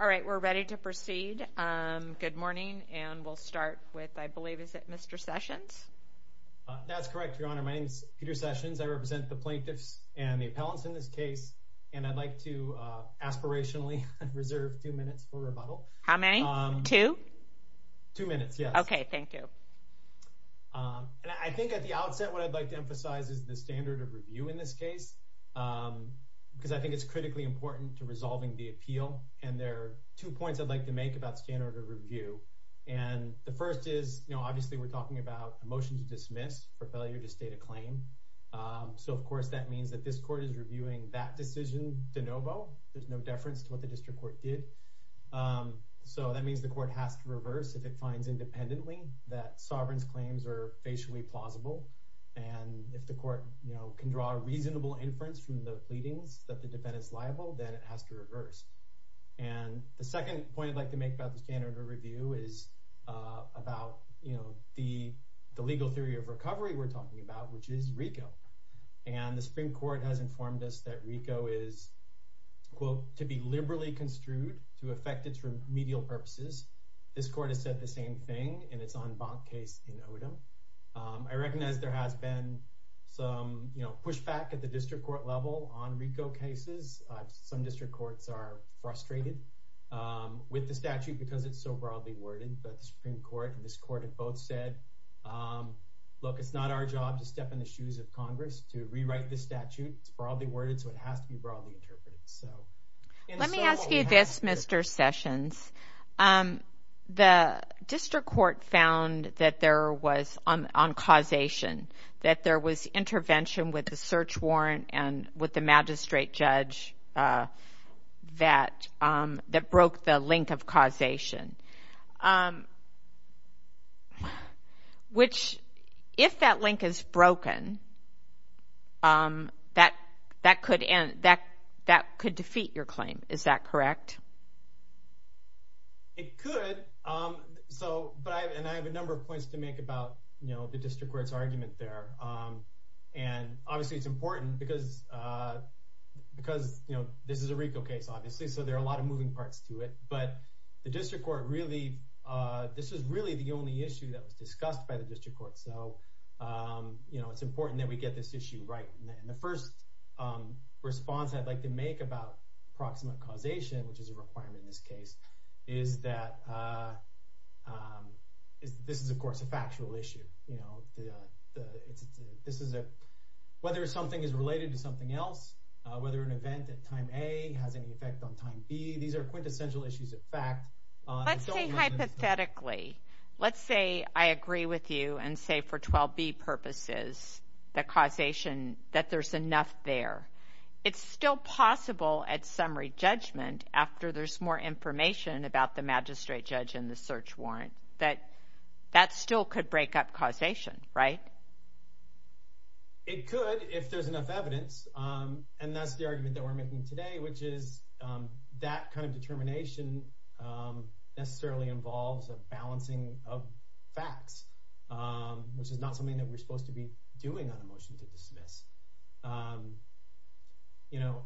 Alright, we're ready to proceed. Good morning, and we'll start with, I believe, is it Mr. Sessions? That's correct, Your Honor. My name is Peter Sessions. I represent the plaintiffs and the appellants in this case, and I'd like to aspirationally reserve two minutes for rebuttal. How many? Two? Two minutes, yes. Okay, thank you. And I think at the outset, what I'd like to emphasize is the standard of review in this case, because I think it's critically important to resolving the appeal. And there are two points I'd like to make about standard of review. And the first is, you know, obviously we're talking about a motion to dismiss for failure to state a claim. So, of course, that means that this court is reviewing that decision de novo. There's no deference to what the district court did. So that means the court has to reverse if it finds independently that Sovereign's claims are facially plausible. And if the court, you know, can draw a reasonable inference from the pleadings that the defendant is liable, then it has to reverse. And the second point I'd like to make about the standard of review is about, you know, the legal theory of recovery we're talking about, which is RICO. And the Supreme Court has informed us that RICO is, quote, to be liberally construed to affect its remedial purposes. This court has said the same thing in its en banc case in Odom. I recognize there has been some, you know, pushback at the district court level on RICO cases. Some district courts are frustrated with the statute because it's so broadly worded. But the Supreme Court and this court have both said, look, it's not our job to step in the shoes of Congress to rewrite this statute. It's broadly worded, so it has to be broadly interpreted. Let me ask you this, Mr. Sessions. The district court found that there was, on causation, that there was intervention with the search warrant and with the magistrate judge that broke the link of causation. Which, if that link is broken, that could defeat your claim. Is that correct? It could. So, and I have a number of points to make about, you know, the district court's argument there. And obviously it's important because, you know, this is a RICO case, obviously, so there are a lot of moving parts to it. But the district court really, this is really the only issue that was discussed by the district court. So, you know, it's important that we get this issue right. And the first response I'd like to make about proximate causation, which is a requirement in this case, is that this is, of course, a factual issue. This is a, whether something is related to something else, whether an event at time A has any effect on time B, these are quintessential issues of fact. Let's say hypothetically, let's say I agree with you and say for 12B purposes that causation, that there's enough there. It's still possible at summary judgment, after there's more information about the magistrate judge and the search warrant, that that still could break up causation, right? It could, if there's enough evidence. And that's the argument that we're making today, which is that kind of determination necessarily involves a balancing of facts, which is not something that we're supposed to be doing on a motion to dismiss. You know,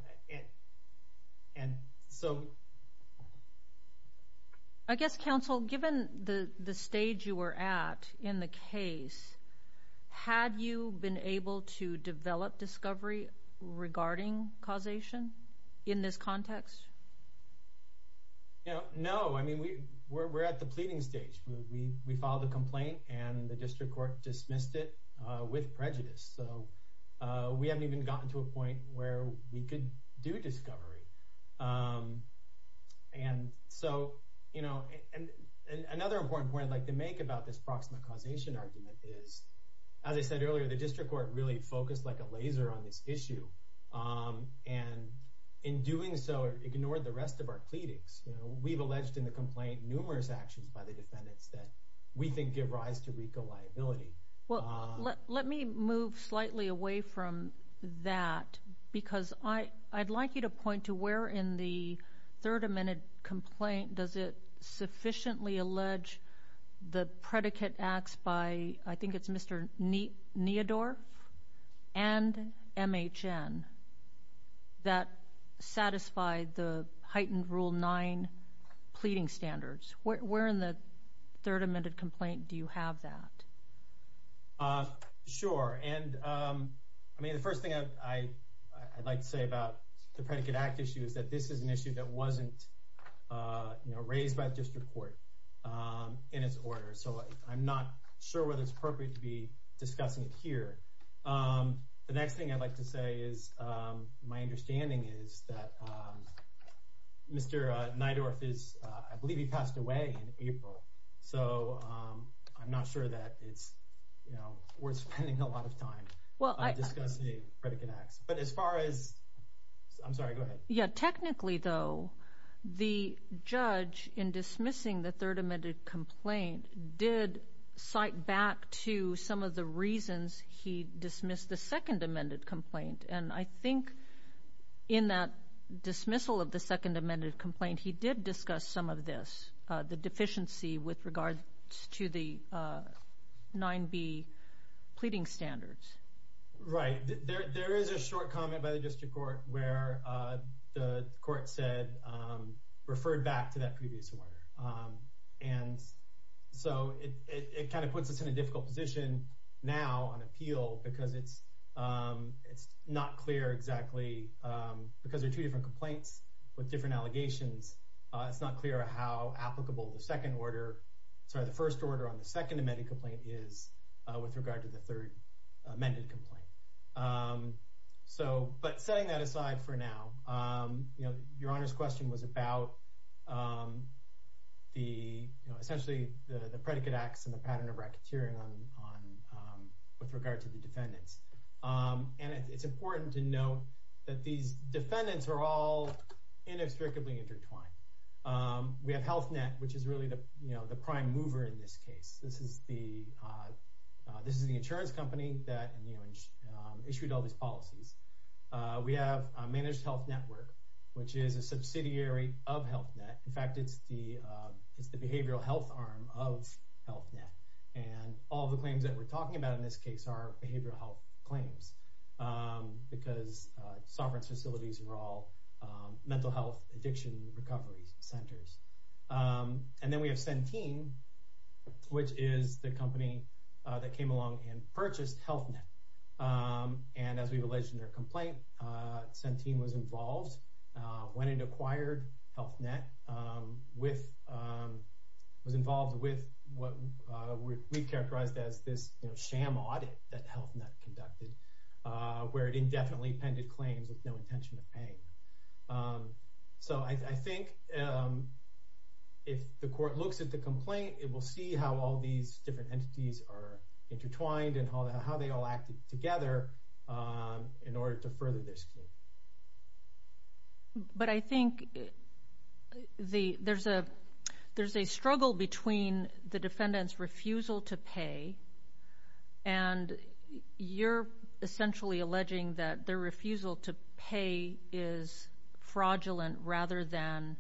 and so... I guess, counsel, given the stage you were at in the case, had you been able to develop discovery regarding causation in this context? No, I mean, we're at the pleading stage. We filed a complaint and the district court dismissed it with prejudice. So we haven't even gotten to a point where we could do discovery. And so, you know, another important point I'd like to make about this proximate causation argument is, as I said earlier, the district court really focused like a laser on this issue. And in doing so, ignored the rest of our pleadings. We've alleged in the complaint numerous actions by the defendants that we think give rise to RICO liability. Well, let me move slightly away from that, because I'd like you to point to where in the third amended complaint does it sufficiently allege the predicate acts by, I think it's Mr. Neodorff and MHN, that satisfied the heightened Rule 9 pleading standards. Where in the third amended complaint do you have that? Sure. And I mean, the first thing I'd like to say about the predicate act issue is that this is an issue that wasn't raised by the district court in its order. So I'm not sure whether it's appropriate to be discussing it here. The next thing I'd like to say is, my understanding is that Mr. Neodorff is, I believe he passed away in April. So I'm not sure that it's worth spending a lot of time discussing predicate acts. But as far as, I'm sorry, go ahead. Yeah, technically though, the judge in dismissing the third amended complaint did cite back to some of the reasons he dismissed the second amended complaint. And I think in that dismissal of the second amended complaint, he did discuss some of this, the deficiency with regards to the 9b pleading standards. Right. There is a short comment by the district court where the court said, referred back to that previous order. And so it kind of puts us in a difficult position now on appeal because it's not clear exactly, because there are two different complaints with different allegations. It's not clear how applicable the second order, sorry, the first order on the second amended complaint is with regard to the third amended complaint. So, but setting that aside for now, your Honor's question was about the, essentially, the predicate acts and the pattern of racketeering with regard to the defendants. And it's important to note that these defendants are all inextricably intertwined. We have Health Net, which is really the prime mover in this case. This is the insurance company that issued all these policies. We have Managed Health Network, which is a subsidiary of Health Net. In fact, it's the behavioral health arm of Health Net. And all the claims that we're talking about in this case are behavioral health claims, because sovereign facilities are all mental health addiction recovery centers. And then we have Centene, which is the company that came along and purchased Health Net. And as we've alleged in their complaint, Centene was involved when it acquired Health Net, was involved with what we've characterized as this sham audit that Health Net conducted, where it indefinitely appended claims with no intention of paying. So I think if the court looks at the complaint, it will see how all these different entities are intertwined and how they all act together in order to further this case. But I think there's a struggle between the defendant's refusal to pay, and you're essentially alleging that their refusal to pay is fraudulent rather than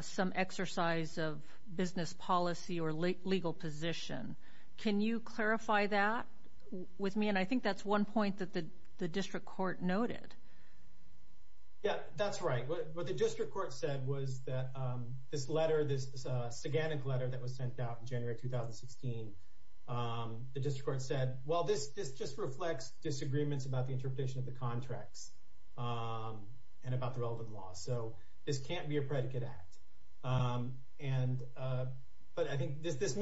some exercise of business policy or legal position. Can you clarify that with me? And I think that's one point that the district court noted. Yeah, that's right. What the district court said was that this letter, this saganic letter that was sent out in January 2016, the district court said, well, this just reflects disagreements about the interpretation of the contracts and about the relevant laws. So this can't be a predicate act. And but I think this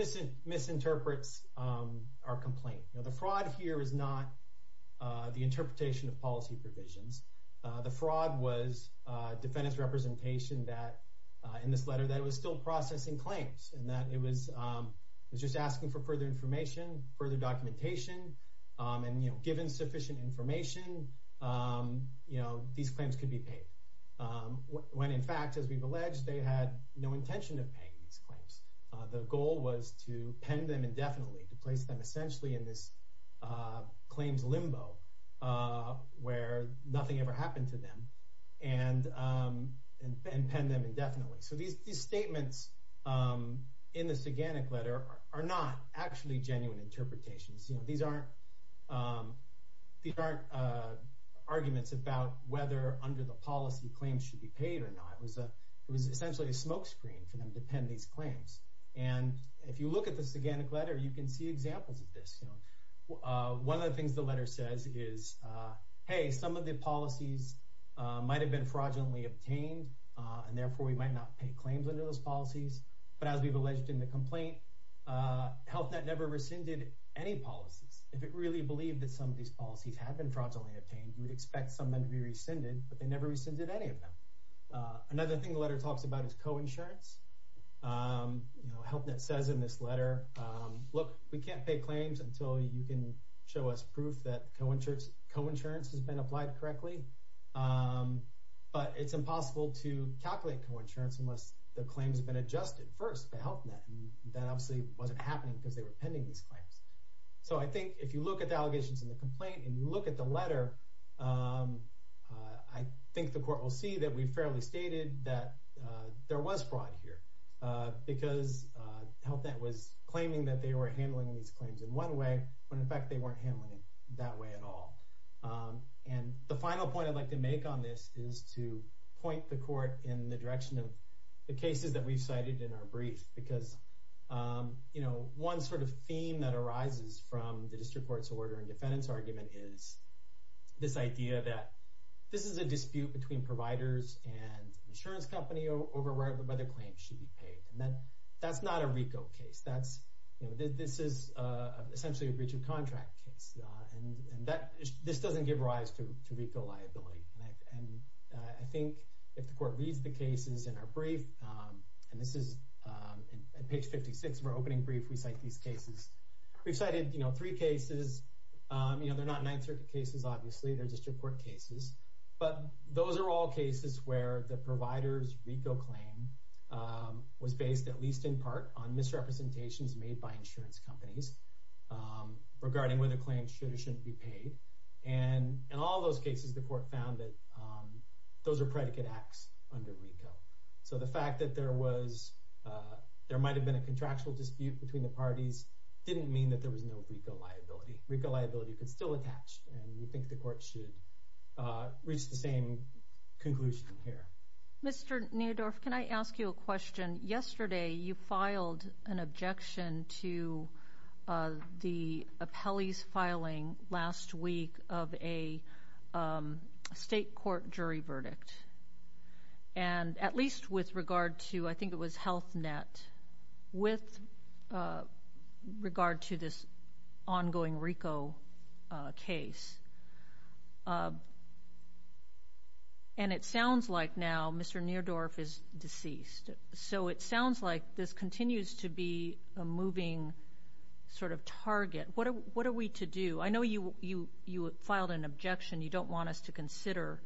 misinterprets our complaint. The fraud here is not the interpretation of policy provisions. The fraud was defendants representation that in this letter that it was still processing claims and that it was just asking for further information, further documentation. And, you know, given sufficient information, you know, these claims could be paid when, in fact, as we've alleged, they had no intention of paying these claims. The goal was to pen them indefinitely, to place them essentially in this claims limbo where nothing ever happened to them and pen them indefinitely. So these statements in the saganic letter are not actually genuine interpretations. These aren't arguments about whether under the policy claims should be paid or not. It was essentially a smokescreen for them to pen these claims. And if you look at the saganic letter, you can see examples of this. One of the things the letter says is, hey, some of the policies might have been fraudulently obtained and therefore we might not pay claims into those policies. But as we've alleged in the complaint, HealthNet never rescinded any policies. If it really believed that some of these policies have been fraudulently obtained, you would expect some of them to be rescinded. But they never rescinded any of them. Another thing the letter talks about is coinsurance. HealthNet says in this letter, look, we can't pay claims until you can show us proof that coinsurance has been applied correctly. But it's impossible to calculate coinsurance unless the claims have been adjusted first by HealthNet. That obviously wasn't happening because they were pending these claims. So I think if you look at the allegations in the complaint and you look at the letter, I think the court will see that we fairly stated that there was fraud here. Because HealthNet was claiming that they were handling these claims in one way when in fact they weren't handling it that way at all. And the final point I'd like to make on this is to point the court in the direction of the cases that we've cited in our brief. Because one sort of theme that arises from the district court's order and defendant's argument is this idea that this is a dispute between providers and insurance company over whether claims should be paid. And that's not a RICO case. This is essentially a breach of contract case. And this doesn't give rise to RICO liability. And I think if the court reads the cases in our brief, and this is page 56 of our opening brief, we cite these cases. We've cited three cases. They're not Ninth Circuit cases, obviously. They're district court cases. But those are all cases where the provider's RICO claim was based at least in part on misrepresentations made by insurance companies regarding whether claims should or shouldn't be paid. And in all those cases, the court found that those are predicate acts under RICO. So the fact that there might have been a contractual dispute between the parties didn't mean that there was no RICO liability. RICO liability could still attach, and we think the court should reach the same conclusion here. Mr. Neudorf, can I ask you a question? Yesterday, you filed an objection to the appellee's filing last week of a state court jury verdict. And at least with regard to, I think it was Health Net, with regard to this ongoing RICO case. And it sounds like now Mr. Neudorf is deceased. So it sounds like this continues to be a moving sort of target. What are we to do? I know you filed an objection. You don't want us to consider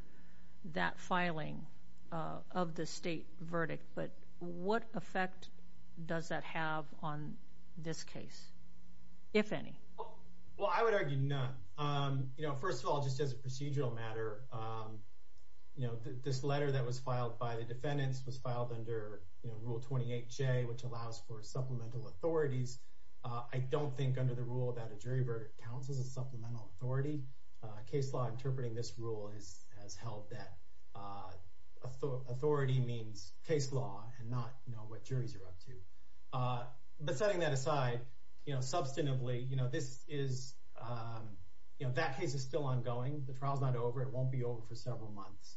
that filing of the state verdict. But what effect does that have on this case, if any? Well, I would argue none. First of all, just as a procedural matter, this letter that was filed by the defendants was filed under Rule 28J, which allows for supplemental authorities. I don't think under the rule about a jury verdict counts as a supplemental authority. Case law interpreting this rule has held that authority means case law and not what juries are up to. But setting that aside, substantively, that case is still ongoing. The trial is not over. It won't be over for several months.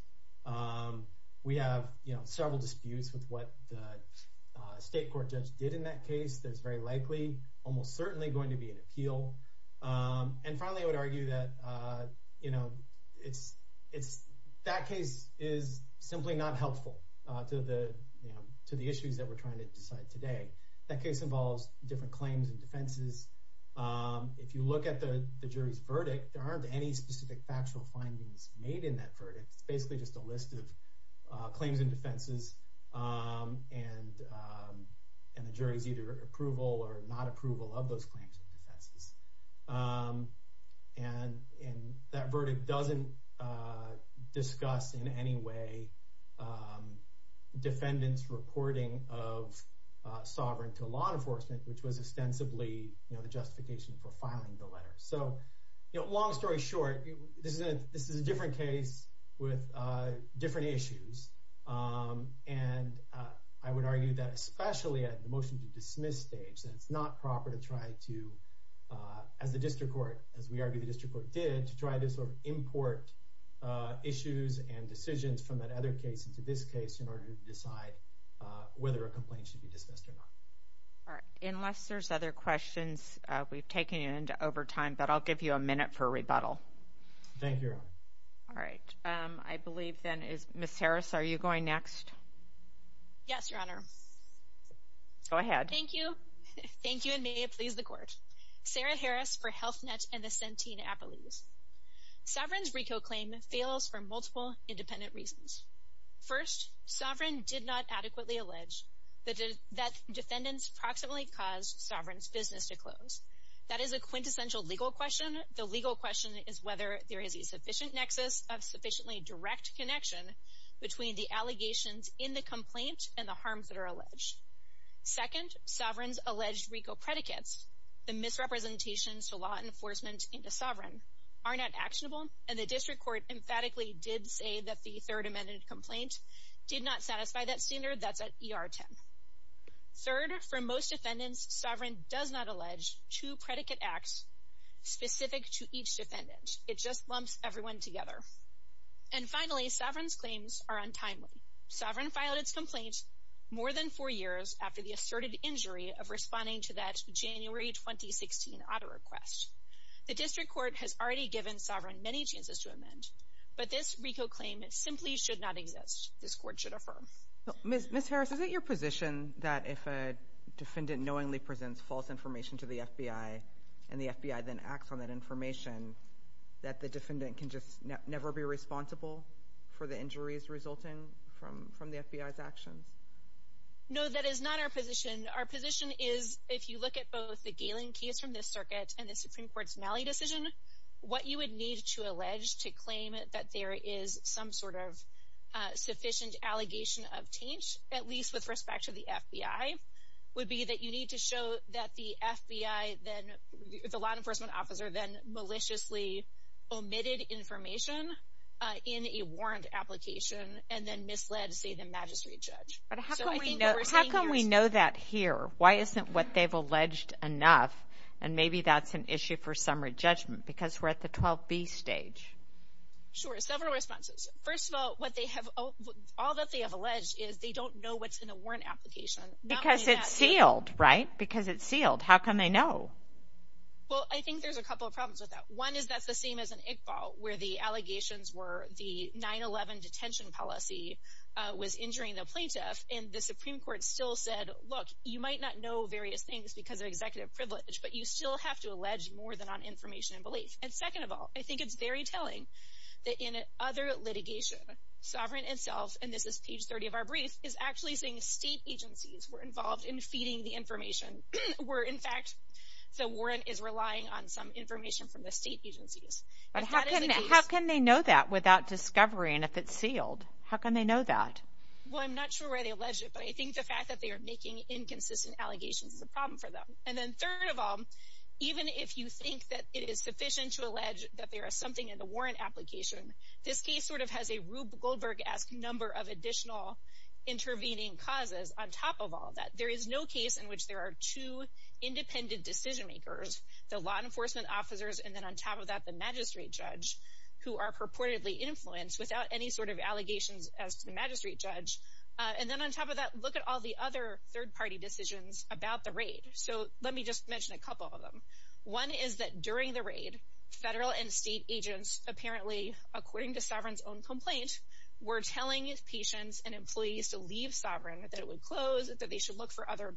We have several disputes with what the state court judge did in that case. There's very likely, almost certainly going to be an appeal. And finally, I would argue that that case is simply not helpful to the issues that we're trying to decide today. That case involves different claims and defenses. If you look at the jury's verdict, there aren't any specific factual findings made in that verdict. It's basically just a list of claims and defenses, and the jury's either approval or not approval of those claims and defenses. And that verdict doesn't discuss in any way defendants' reporting of sovereign to law enforcement, which was ostensibly the justification for filing the letter. So, you know, long story short, this is a different case with different issues. And I would argue that especially at the motion to dismiss stage, that it's not proper to try to, as the district court, as we argue the district court did, to try to sort of import issues and decisions from that other case into this case in order to decide whether a complaint should be dismissed or not. Unless there's other questions, we've taken you into overtime, but I'll give you a minute for a rebuttal. Thank you. All right. I believe, then, Ms. Harris, are you going next? Yes, Your Honor. Go ahead. Thank you. Thank you, and may it please the Court. Sarah Harris for Health Net and the Centene Appellees. Sovereign's RICO claim fails for multiple independent reasons. First, Sovereign did not adequately allege that defendants proximately caused Sovereign's business to close. That is a quintessential legal question. The legal question is whether there is a sufficient nexus of sufficiently direct connection between the allegations in the complaint and the harms that are alleged. Second, Sovereign's alleged RICO predicates, the misrepresentations to law enforcement into Sovereign, are not actionable, and the district court emphatically did say that the third amended complaint did not satisfy that standard. That's at ER 10. Third, for most defendants, Sovereign does not allege two predicate acts specific to each defendant. It just lumps everyone together. And finally, Sovereign's claims are untimely. Sovereign filed its complaint more than four years after the asserted injury of responding to that January 2016 auto request. The district court has already given Sovereign many chances to amend, but this RICO claim simply should not exist. This court should affirm. Ms. Harris, is it your position that if a defendant knowingly presents false information to the FBI, and the FBI then acts on that information, that the defendant can just never be responsible for the injuries resulting from the FBI's actions? No, that is not our position. Our position is, if you look at both the Galen case from this circuit and the Supreme Court's Malley decision, what you would need to allege to claim that there is some sort of sufficient allegation of taint, at least with respect to the FBI, would be that you need to show that the FBI, the law enforcement officer, then maliciously omitted information in a warrant application, and then misled, say, the magistrate judge. But how can we know that here? Why isn't what they've alleged enough? And maybe that's an issue for summary judgment, because we're at the 12B stage. Sure. Several responses. First of all, all that they have alleged is they don't know what's in a warrant application. Because it's sealed, right? Because it's sealed. How can they know? Well, I think there's a couple of problems with that. One is that's the same as in Iqbal, where the allegations were the 9-11 detention policy was injuring the plaintiff, and the Supreme Court still said, look, you might not know various things because of executive privilege, but you still have to allege more than on information and belief. And second of all, I think it's very telling that in other litigation, Sovereign itself, and this is page 30 of our brief, is actually saying state agencies were involved in feeding the information, where, in fact, the warrant is relying on some information from the state agencies. How can they know that without discovery and if it's sealed? How can they know that? Well, I'm not sure why they alleged it, but I think the fact that they are making inconsistent allegations is a problem for them. And then third of all, even if you think that it is sufficient to allege that there is something in the warrant application, this case sort of has a Rube Goldberg-esque number of additional intervening causes on top of all that. There is no case in which there are two independent decision-makers, the law enforcement officers, and then on top of that, the magistrate judge, who are purportedly influenced without any sort of allegations as to the magistrate judge. And then on top of that, look at all the other third-party decisions about the raid. So let me just mention a couple of them. One is that during the raid, federal and state agents apparently, according to Sovereign's own complaint, were telling patients and employees to leave Sovereign, that it would close, that they should look for other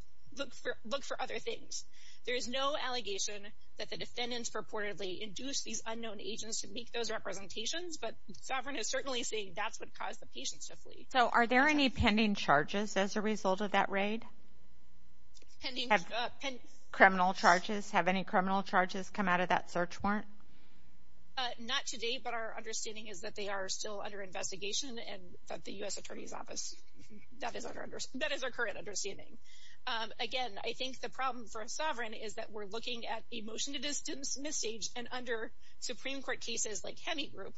things. There is no allegation that the defendants purportedly induced these unknown agents to make those representations, but Sovereign is certainly saying that's what caused the patients to flee. So are there any pending charges as a result of that raid? Pending? Criminal charges. Have any criminal charges come out of that search warrant? Not to date, but our understanding is that they are still under investigation at the U.S. Attorney's Office. That is our current understanding. Again, I think the problem for Sovereign is that we're looking at a motion to dismiss stage, and under Supreme Court cases like Hemi Group,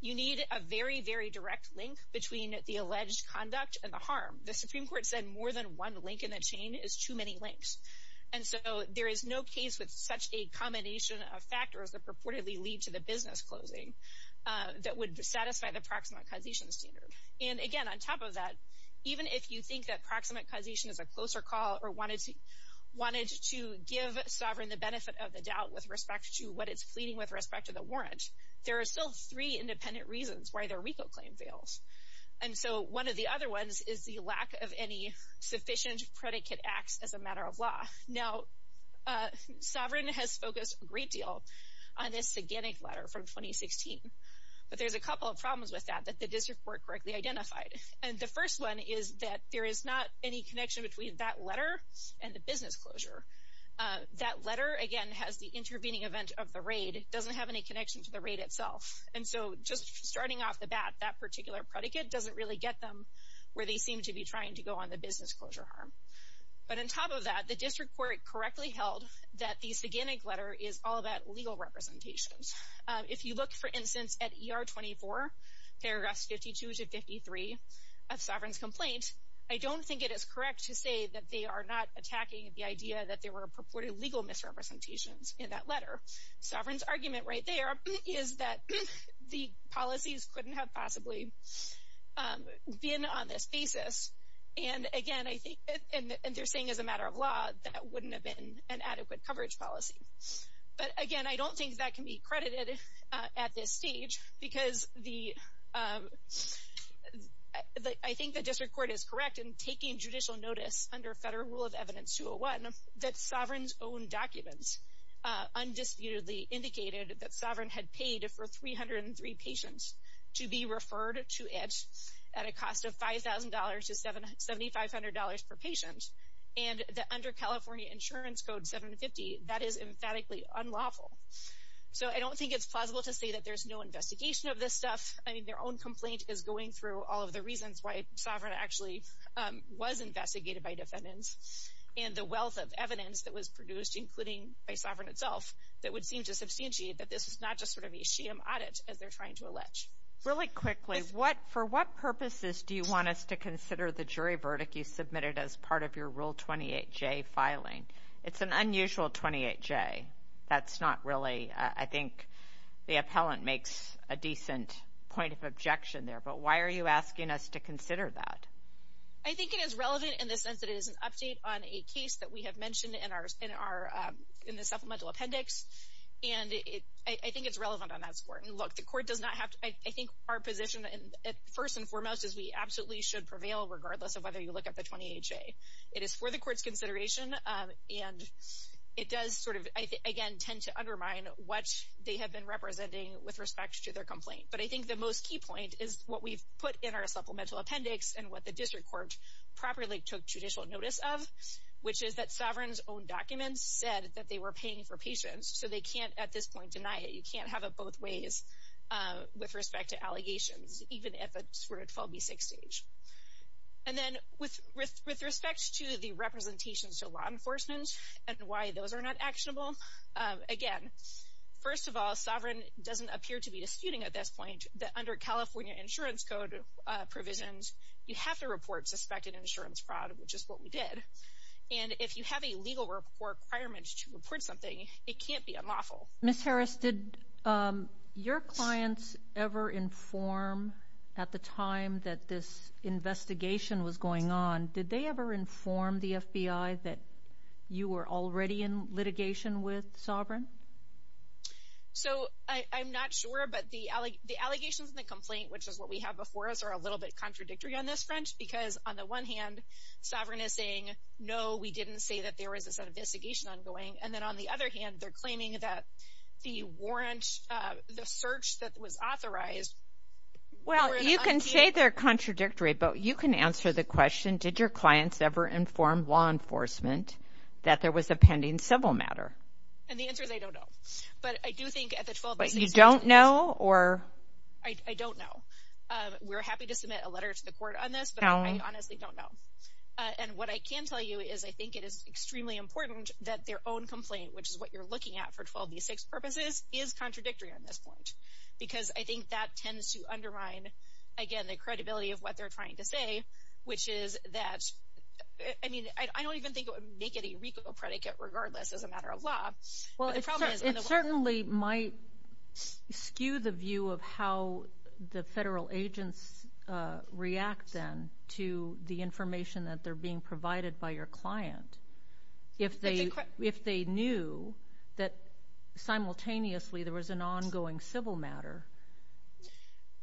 you need a very, very direct link between the alleged conduct and the harm. The Supreme Court said more than one link in a chain is too many links. And so there is no case with such a combination of factors that purportedly lead to the business closing that would satisfy the proximate causation standard. And again, on top of that, even if you think that proximate causation is a closer call or wanted to give Sovereign the benefit of the doubt with respect to what it's pleading with respect to the warrant, there are still three independent reasons why their RICO claim fails. And so one of the other ones is the lack of any sufficient predicate acts as a matter of law. Now, Sovereign has focused a great deal on this gigantic letter from 2016, but there's a couple of problems with that that the district court correctly identified. And the first one is that there is not any connection between that letter and the business closure. That letter, again, has the intervening event of the raid. It doesn't have any connection to the raid itself. And so just starting off the bat, that particular predicate doesn't really get them where they seem to be trying to go on the business closure harm. But on top of that, the district court correctly held that this gigantic letter is all about legal representations. If you look, for instance, at ER 24, paragraphs 52 to 53 of Sovereign's complaint, I don't think it is correct to say that they are not attacking the idea that there were purported legal misrepresentations in that letter. Sovereign's argument right there is that the policies couldn't have possibly been on this basis. And, again, I think, and they're saying as a matter of law, that wouldn't have been an adequate coverage policy. But, again, I don't think that can be credited at this stage because I think the district court is correct in taking judicial notice under Federal Rule of Evidence 201 that Sovereign's own documents undisputedly indicated that Sovereign had paid for 303 patients to be referred to it at a cost of $5,000 to $7,500 per patient. And that under California Insurance Code 750, that is emphatically unlawful. So I don't think it's plausible to say that there's no investigation of this stuff. I mean, their own complaint is going through all of the reasons why Sovereign actually was investigated by defendants. And the wealth of evidence that was produced, including by Sovereign itself, that would seem to substantiate that this is not just sort of a sham audit as they're trying to allege. Really quickly, for what purposes do you want us to consider the jury verdict you submitted as part of your Rule 28J filing? It's an unusual 28J. That's not really, I think, the appellant makes a decent point of objection there. But why are you asking us to consider that? I think it is relevant in the sense that it is an update on a case that we have mentioned in the supplemental appendix. And I think it's relevant on that score. And look, the court does not have to, I think our position, first and foremost, is we absolutely should prevail regardless of whether you look at the 28J. It is for the court's consideration, and it does sort of, again, tend to undermine what they have been representing with respect to their complaint. But I think the most key point is what we've put in our supplemental appendix and what the district court properly took judicial notice of, which is that Sovereign's own documents said that they were paying for patients. So they can't, at this point, deny it. You can't have it both ways with respect to allegations, even at the sort of 12B6 stage. And then with respect to the representations to law enforcement and why those are not actionable, again, first of all, Sovereign doesn't appear to be disputing at this point that under California insurance code provisions, you have to report suspected insurance fraud, which is what we did. And if you have a legal requirement to report something, it can't be unlawful. Ms. Harris, did your clients ever inform at the time that this investigation was going on, did they ever inform the FBI that you were already in litigation with Sovereign? So I'm not sure, but the allegations in the complaint, which is what we have before us, are a little bit contradictory on this front because, on the one hand, Sovereign is saying, no, we didn't say that there was this investigation ongoing. And then on the other hand, they're claiming that the warrant, the search that was authorized Well, you can say they're contradictory, but you can answer the question, did your clients ever inform law enforcement that there was a pending civil matter? And the answer is I don't know. But I do think at the 12B6 stage But you don't know? I don't know. We're happy to submit a letter to the court on this, but I honestly don't know. And what I can tell you is I think it is extremely important that their own complaint, which is what you're looking at for 12B6 purposes, is contradictory on this point because I think that tends to undermine, again, the credibility of what they're trying to say, which is that, I mean, I don't even think it would make it a RICO predicate regardless as a matter of law. Well, it certainly might skew the view of how the federal agents react then to the information that they're being provided by your client. If they knew that simultaneously there was an ongoing civil matter.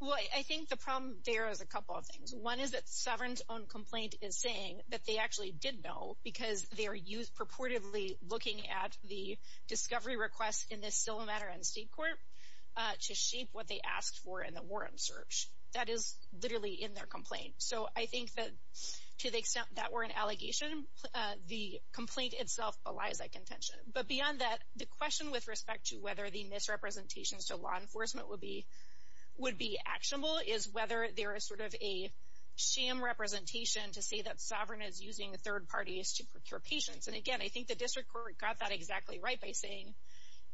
Well, I think the problem there is a couple of things. One is that Sovereign's own complaint is saying that they actually did know because they are purportedly looking at the discovery request in this civil matter and state court to shape what they asked for in the Warren search. That is literally in their complaint. So I think that to the extent that were an allegation, the complaint itself belies that contention. But beyond that, the question with respect to whether the misrepresentations to law enforcement would be actionable is whether there is sort of a sham representation to say that Sovereign is using third parties to procure patients. And again, I think the district court got that exactly right by saying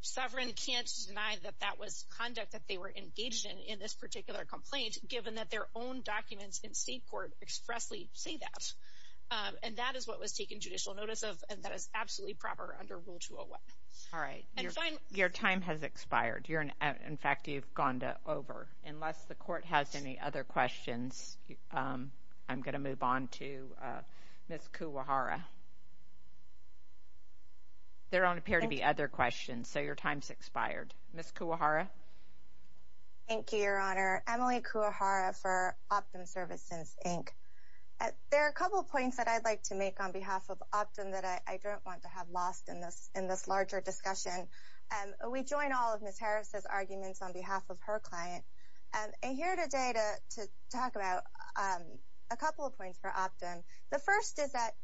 Sovereign can't deny that that was conduct that they were engaged in in this particular complaint given that their own documents in state court expressly say that. And that is what was taken judicial notice of, and that is absolutely proper under Rule 201. All right. Your time has expired. In fact, you've gone over. Unless the court has any other questions, I'm going to move on to Ms. Kuwahara. There don't appear to be other questions, so your time's expired. Ms. Kuwahara. Thank you, Your Honor. Emily Kuwahara for Optum Services, Inc. There are a couple of points that I'd like to make on behalf of Optum that I don't want to have lost in this larger discussion. We join all of Ms. Harris's arguments on behalf of her client. I'm here today to talk about a couple of points for Optum. The first is that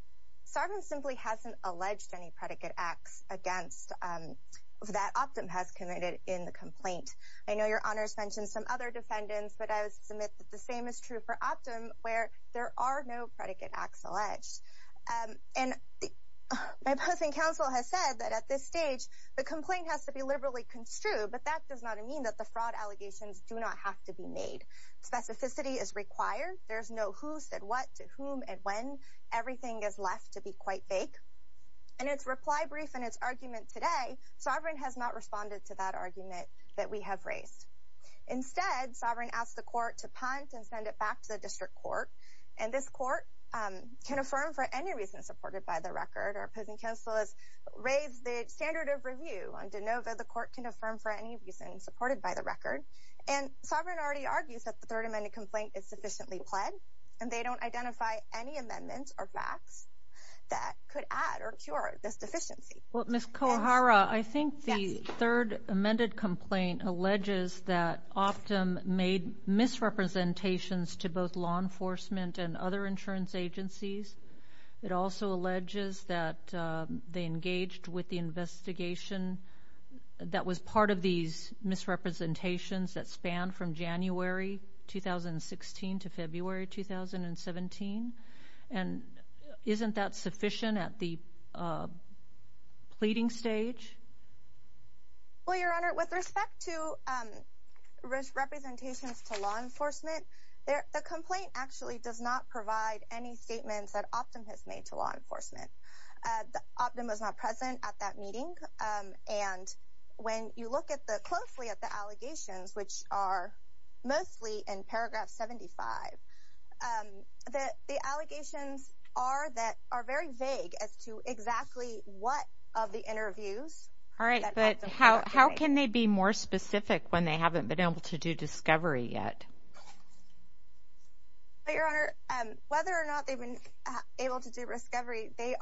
Sovereign simply hasn't alleged any predicate acts that Optum has committed in the complaint. I know Your Honor has mentioned some other defendants, but I would submit that the same is true for Optum, where there are no predicate acts alleged. And my posting counsel has said that at this stage, the complaint has to be liberally construed, but that does not mean that the fraud allegations do not have to be made. Specificity is required. There's no who said what to whom and when. Everything is left to be quite vague. In its reply brief and its argument today, Sovereign has not responded to that argument that we have raised. Instead, Sovereign asked the court to punt and send it back to the district court, and this court can affirm for any reason supported by the record. Our opposing counsel has raised the standard of review on DeNova. The court can affirm for any reason supported by the record. And Sovereign already argues that the Third Amendment complaint is sufficiently pled, and they don't identify any amendments or facts that could add or cure this deficiency. Well, Ms. Kohara, I think the Third Amendment complaint alleges that Optum made misrepresentations to both law enforcement and other insurance agencies. It also alleges that they engaged with the investigation that was part of these misrepresentations that spanned from January 2016 to February 2017. And isn't that sufficient at the pleading stage? Well, Your Honor, with respect to representations to law enforcement, the complaint actually does not provide any statements that Optum has made to law enforcement. Optum was not present at that meeting. And when you look closely at the allegations, which are mostly in paragraph 75, the allegations are that are very vague as to exactly what of the interviews that Optum was doing. All right, but how can they be more specific when they haven't been able to do discovery yet? Well, Your Honor, whether or not they've been able to do discovery, they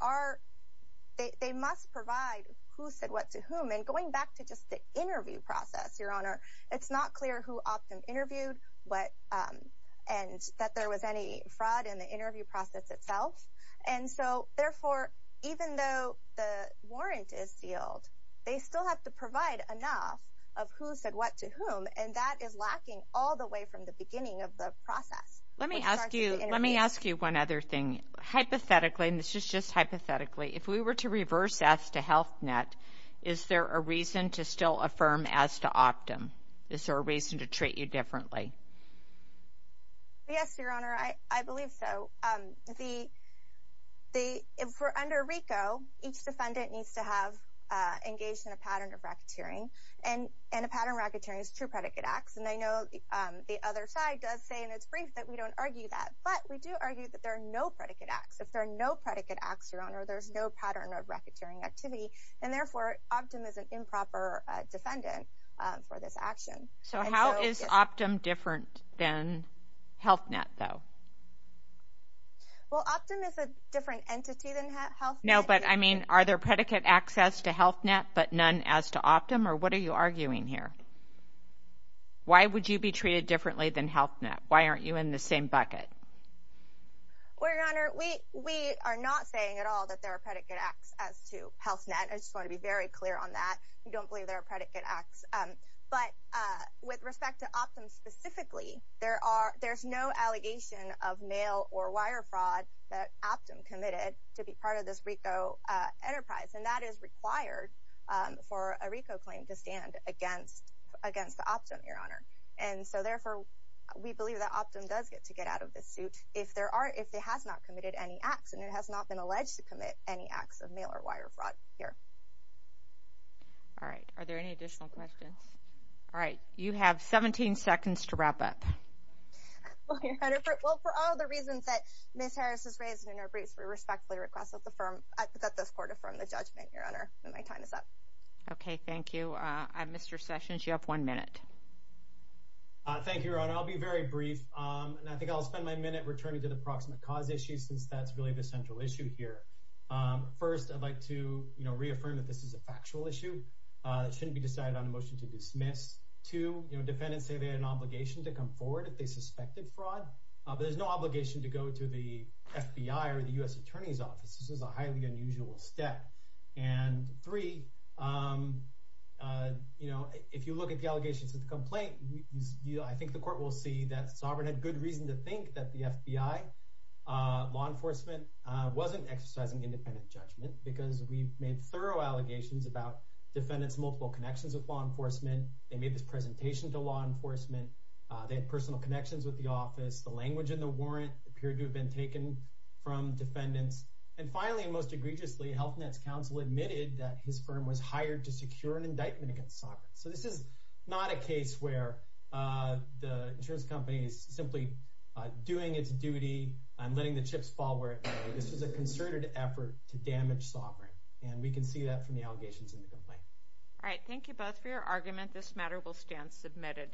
must provide who said what to whom. And going back to just the interview process, Your Honor, it's not clear who Optum interviewed and that there was any fraud in the interview process itself. And so, therefore, even though the warrant is sealed, they still have to provide enough of who said what to whom, and that is lacking all the way from the beginning of the process. Let me ask you one other thing. Hypothetically, and this is just hypothetically, if we were to reverse this to Health Net, is there a reason to still affirm as to Optum? Is there a reason to treat you differently? Yes, Your Honor, I believe so. For under RICO, each defendant needs to have engaged in a pattern of racketeering, and a pattern of racketeering is true predicate acts. And I know the other side does say in its brief that we don't argue that, but we do argue that there are no predicate acts. If there are no predicate acts, Your Honor, there's no pattern of racketeering activity, and, therefore, Optum is an improper defendant for this action. So how is Optum different than Health Net, though? Well, Optum is a different entity than Health Net. No, but, I mean, are there predicate acts as to Health Net but none as to Optum, or what are you arguing here? Why would you be treated differently than Health Net? Why aren't you in the same bucket? Well, Your Honor, we are not saying at all that there are predicate acts as to Health Net. I just want to be very clear on that. We don't believe there are predicate acts. But with respect to Optum specifically, there's no allegation of mail or wire fraud that Optum committed to be part of this RICO enterprise, and that is required for a RICO claim to stand against Optum, Your Honor. And so, therefore, we believe that Optum does get to get out of this suit if it has not committed any acts, and it has not been alleged to commit any acts of mail or wire fraud here. All right. Are there any additional questions? All right. You have 17 seconds to wrap up. Well, Your Honor, for all the reasons that Ms. Harris has raised in her briefs, I respectfully request that this court affirm the judgment, Your Honor, and my time is up. Okay. Thank you. Mr. Sessions, you have one minute. Thank you, Your Honor. I'll be very brief, and I think I'll spend my minute returning to the proximate cause issue since that's really the central issue here. First, I'd like to reaffirm that this is a factual issue. It shouldn't be decided on a motion to dismiss. Two, defendants say they had an obligation to come forward if they suspected fraud. There's no obligation to go to the FBI or the U.S. Attorney's Office. This is a highly unusual step. And three, you know, if you look at the allegations of the complaint, I think the court will see that Sovereign had good reason to think that the FBI, law enforcement, wasn't exercising independent judgment because we've made thorough allegations about defendants' multiple connections with law enforcement. They made this presentation to law enforcement. They had personal connections with the office. The language in the warrant appeared to have been taken from defendants. And finally, and most egregiously, Health Net's counsel admitted that his firm was hired to secure an indictment against Sovereign. So this is not a case where the insurance company is simply doing its duty and letting the chips fall where it may. This was a concerted effort to damage Sovereign, and we can see that from the allegations in the complaint. All right. Thank you both for your argument. This matter will stand submitted.